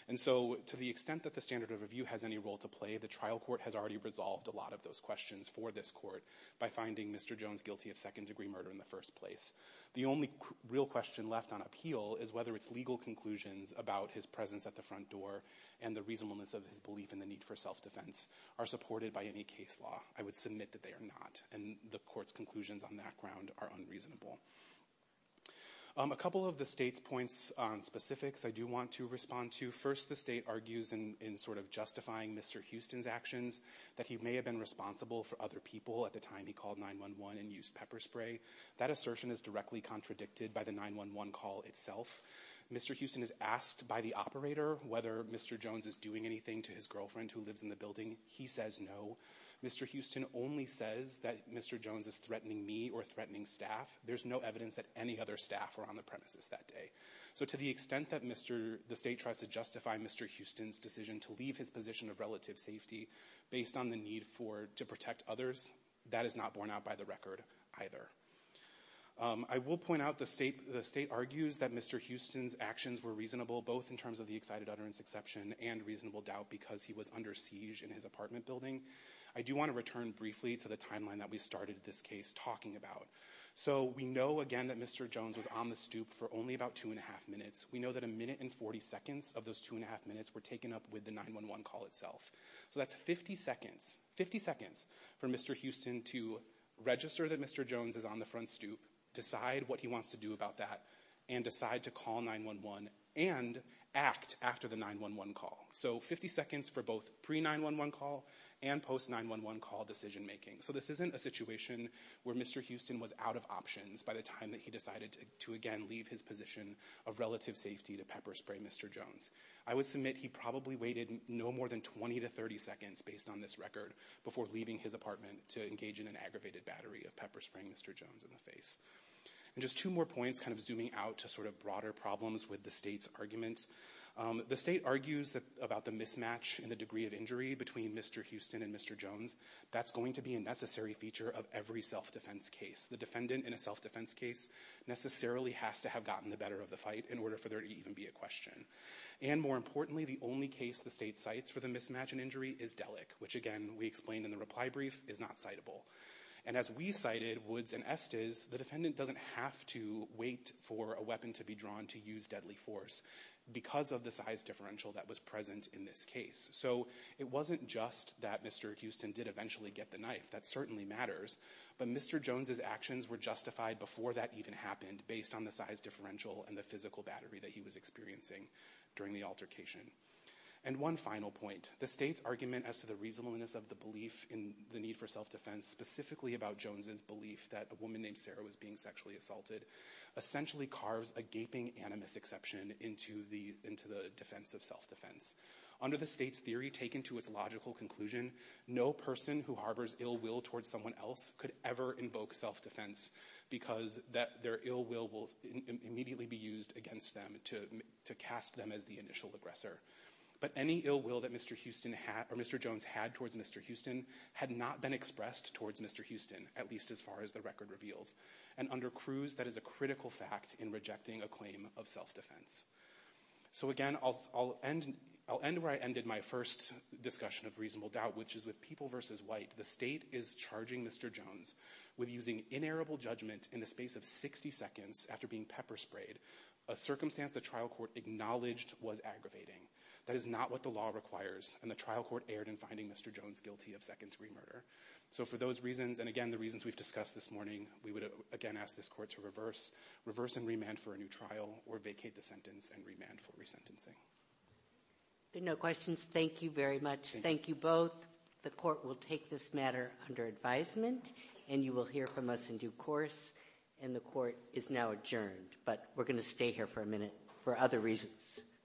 And so to the extent that the standard of review has any role to play, the trial court has already resolved a lot of those questions for this court by finding Mr. Jones guilty of second-degree murder in the first place. The only real question left on appeal is whether its legal conclusions about his presence at the front door and the reasonableness of his belief in the need for self-defense are supported by any case law. I would submit that they are not, and the court's conclusions on that ground are unreasonable. A couple of the state's points on specifics I do want to respond to. First, the state argues in sort of justifying Mr. Houston's actions that he may have been responsible for other people at the time he called 911 and used pepper spray. That assertion is directly contradicted by the 911 call itself. Mr. Houston is asked by the operator whether Mr. Jones is doing anything to his girlfriend who lives in the building. He says no. Mr. Houston only says that Mr. Jones is threatening me or threatening staff. There's no evidence that any other staff were on the premises that day. So to the extent that the state tries to justify Mr. Houston's decision to leave his position of relative safety based on the need to protect others, that is not borne out by the record either. I will point out the state argues that Mr. Houston's actions were reasonable both in terms of the excited utterance exception and reasonable doubt because he was under siege in his apartment building. I do want to return briefly to the timeline that we started this case talking about. So we know, again, that Mr. Jones was on the stoop for only about two and a half minutes. We know that a minute and 40 seconds of those two and a half minutes were taken up with the 911 call itself. So that's 50 seconds for Mr. Houston to register that Mr. Jones is on the front stoop, decide what he wants to do about that, and decide to call 911 and act after the 911 call. So 50 seconds for both pre-911 call and post-911 call decision making. So this isn't a situation where Mr. Houston was out of options by the time that he decided to, again, leave his position of relative safety to pepper spray Mr. Jones. I would submit he probably waited no more than 20 to 30 seconds, based on this record, before leaving his apartment to engage in an aggravated battery of pepper spraying Mr. Jones in the face. And just two more points, kind of zooming out to sort of broader problems with the state's argument. The state argues about the mismatch in the degree of injury between Mr. Houston and Mr. Jones. That's going to be a necessary feature of every self-defense case. The defendant in a self-defense case necessarily has to have gotten the better of the fight in order for there to even be a question. And more importantly, the only case the state cites for the mismatch in injury is Dellick, which again, we explained in the reply brief, is not citable. And as we cited, Woods and Estes, the defendant doesn't have to wait for a weapon to be drawn to use deadly force because of the size differential that was present in this case. So it wasn't just that Mr. Houston did eventually get the knife. That certainly matters. But Mr. Jones' actions were justified before that even happened based on the size differential and the physical battery that he was experiencing during the altercation. And one final point, the state's argument as to the reasonableness of the belief in the need for self-defense, specifically about Jones' belief that a woman named Sarah was being sexually assaulted, essentially carves a gaping animus exception into the defense of self-defense. Under the state's theory, taken to its logical conclusion, no person who harbors ill will towards someone else could ever invoke self-defense because their ill will will immediately be used against them to cast them as the initial aggressor. But any ill will that Mr. Jones had towards Mr. Houston had not been expressed towards Mr. Houston, at least as far as the record reveals. And under Cruz, that is a critical fact in rejecting a claim of self-defense. So again, I'll end where I ended my first discussion of reasonable doubt, which is with people versus white. The state is charging Mr. Jones with using inerrable judgment in the space of 60 seconds after being pepper sprayed, a circumstance the trial court acknowledged was aggravating. That is not what the law requires. And the trial court erred in finding Mr. Jones guilty of second-degree murder. So for those reasons, and again, the reasons we've discussed this morning, we would again ask this court to reverse and remand for a new trial or vacate the sentence and remand for resentencing. If there are no questions, thank you very much. Thank you both. The court will take this matter under advisement, and you will hear from us in due course. And the court is now adjourned, but we're going to stay here for a minute for other reasons.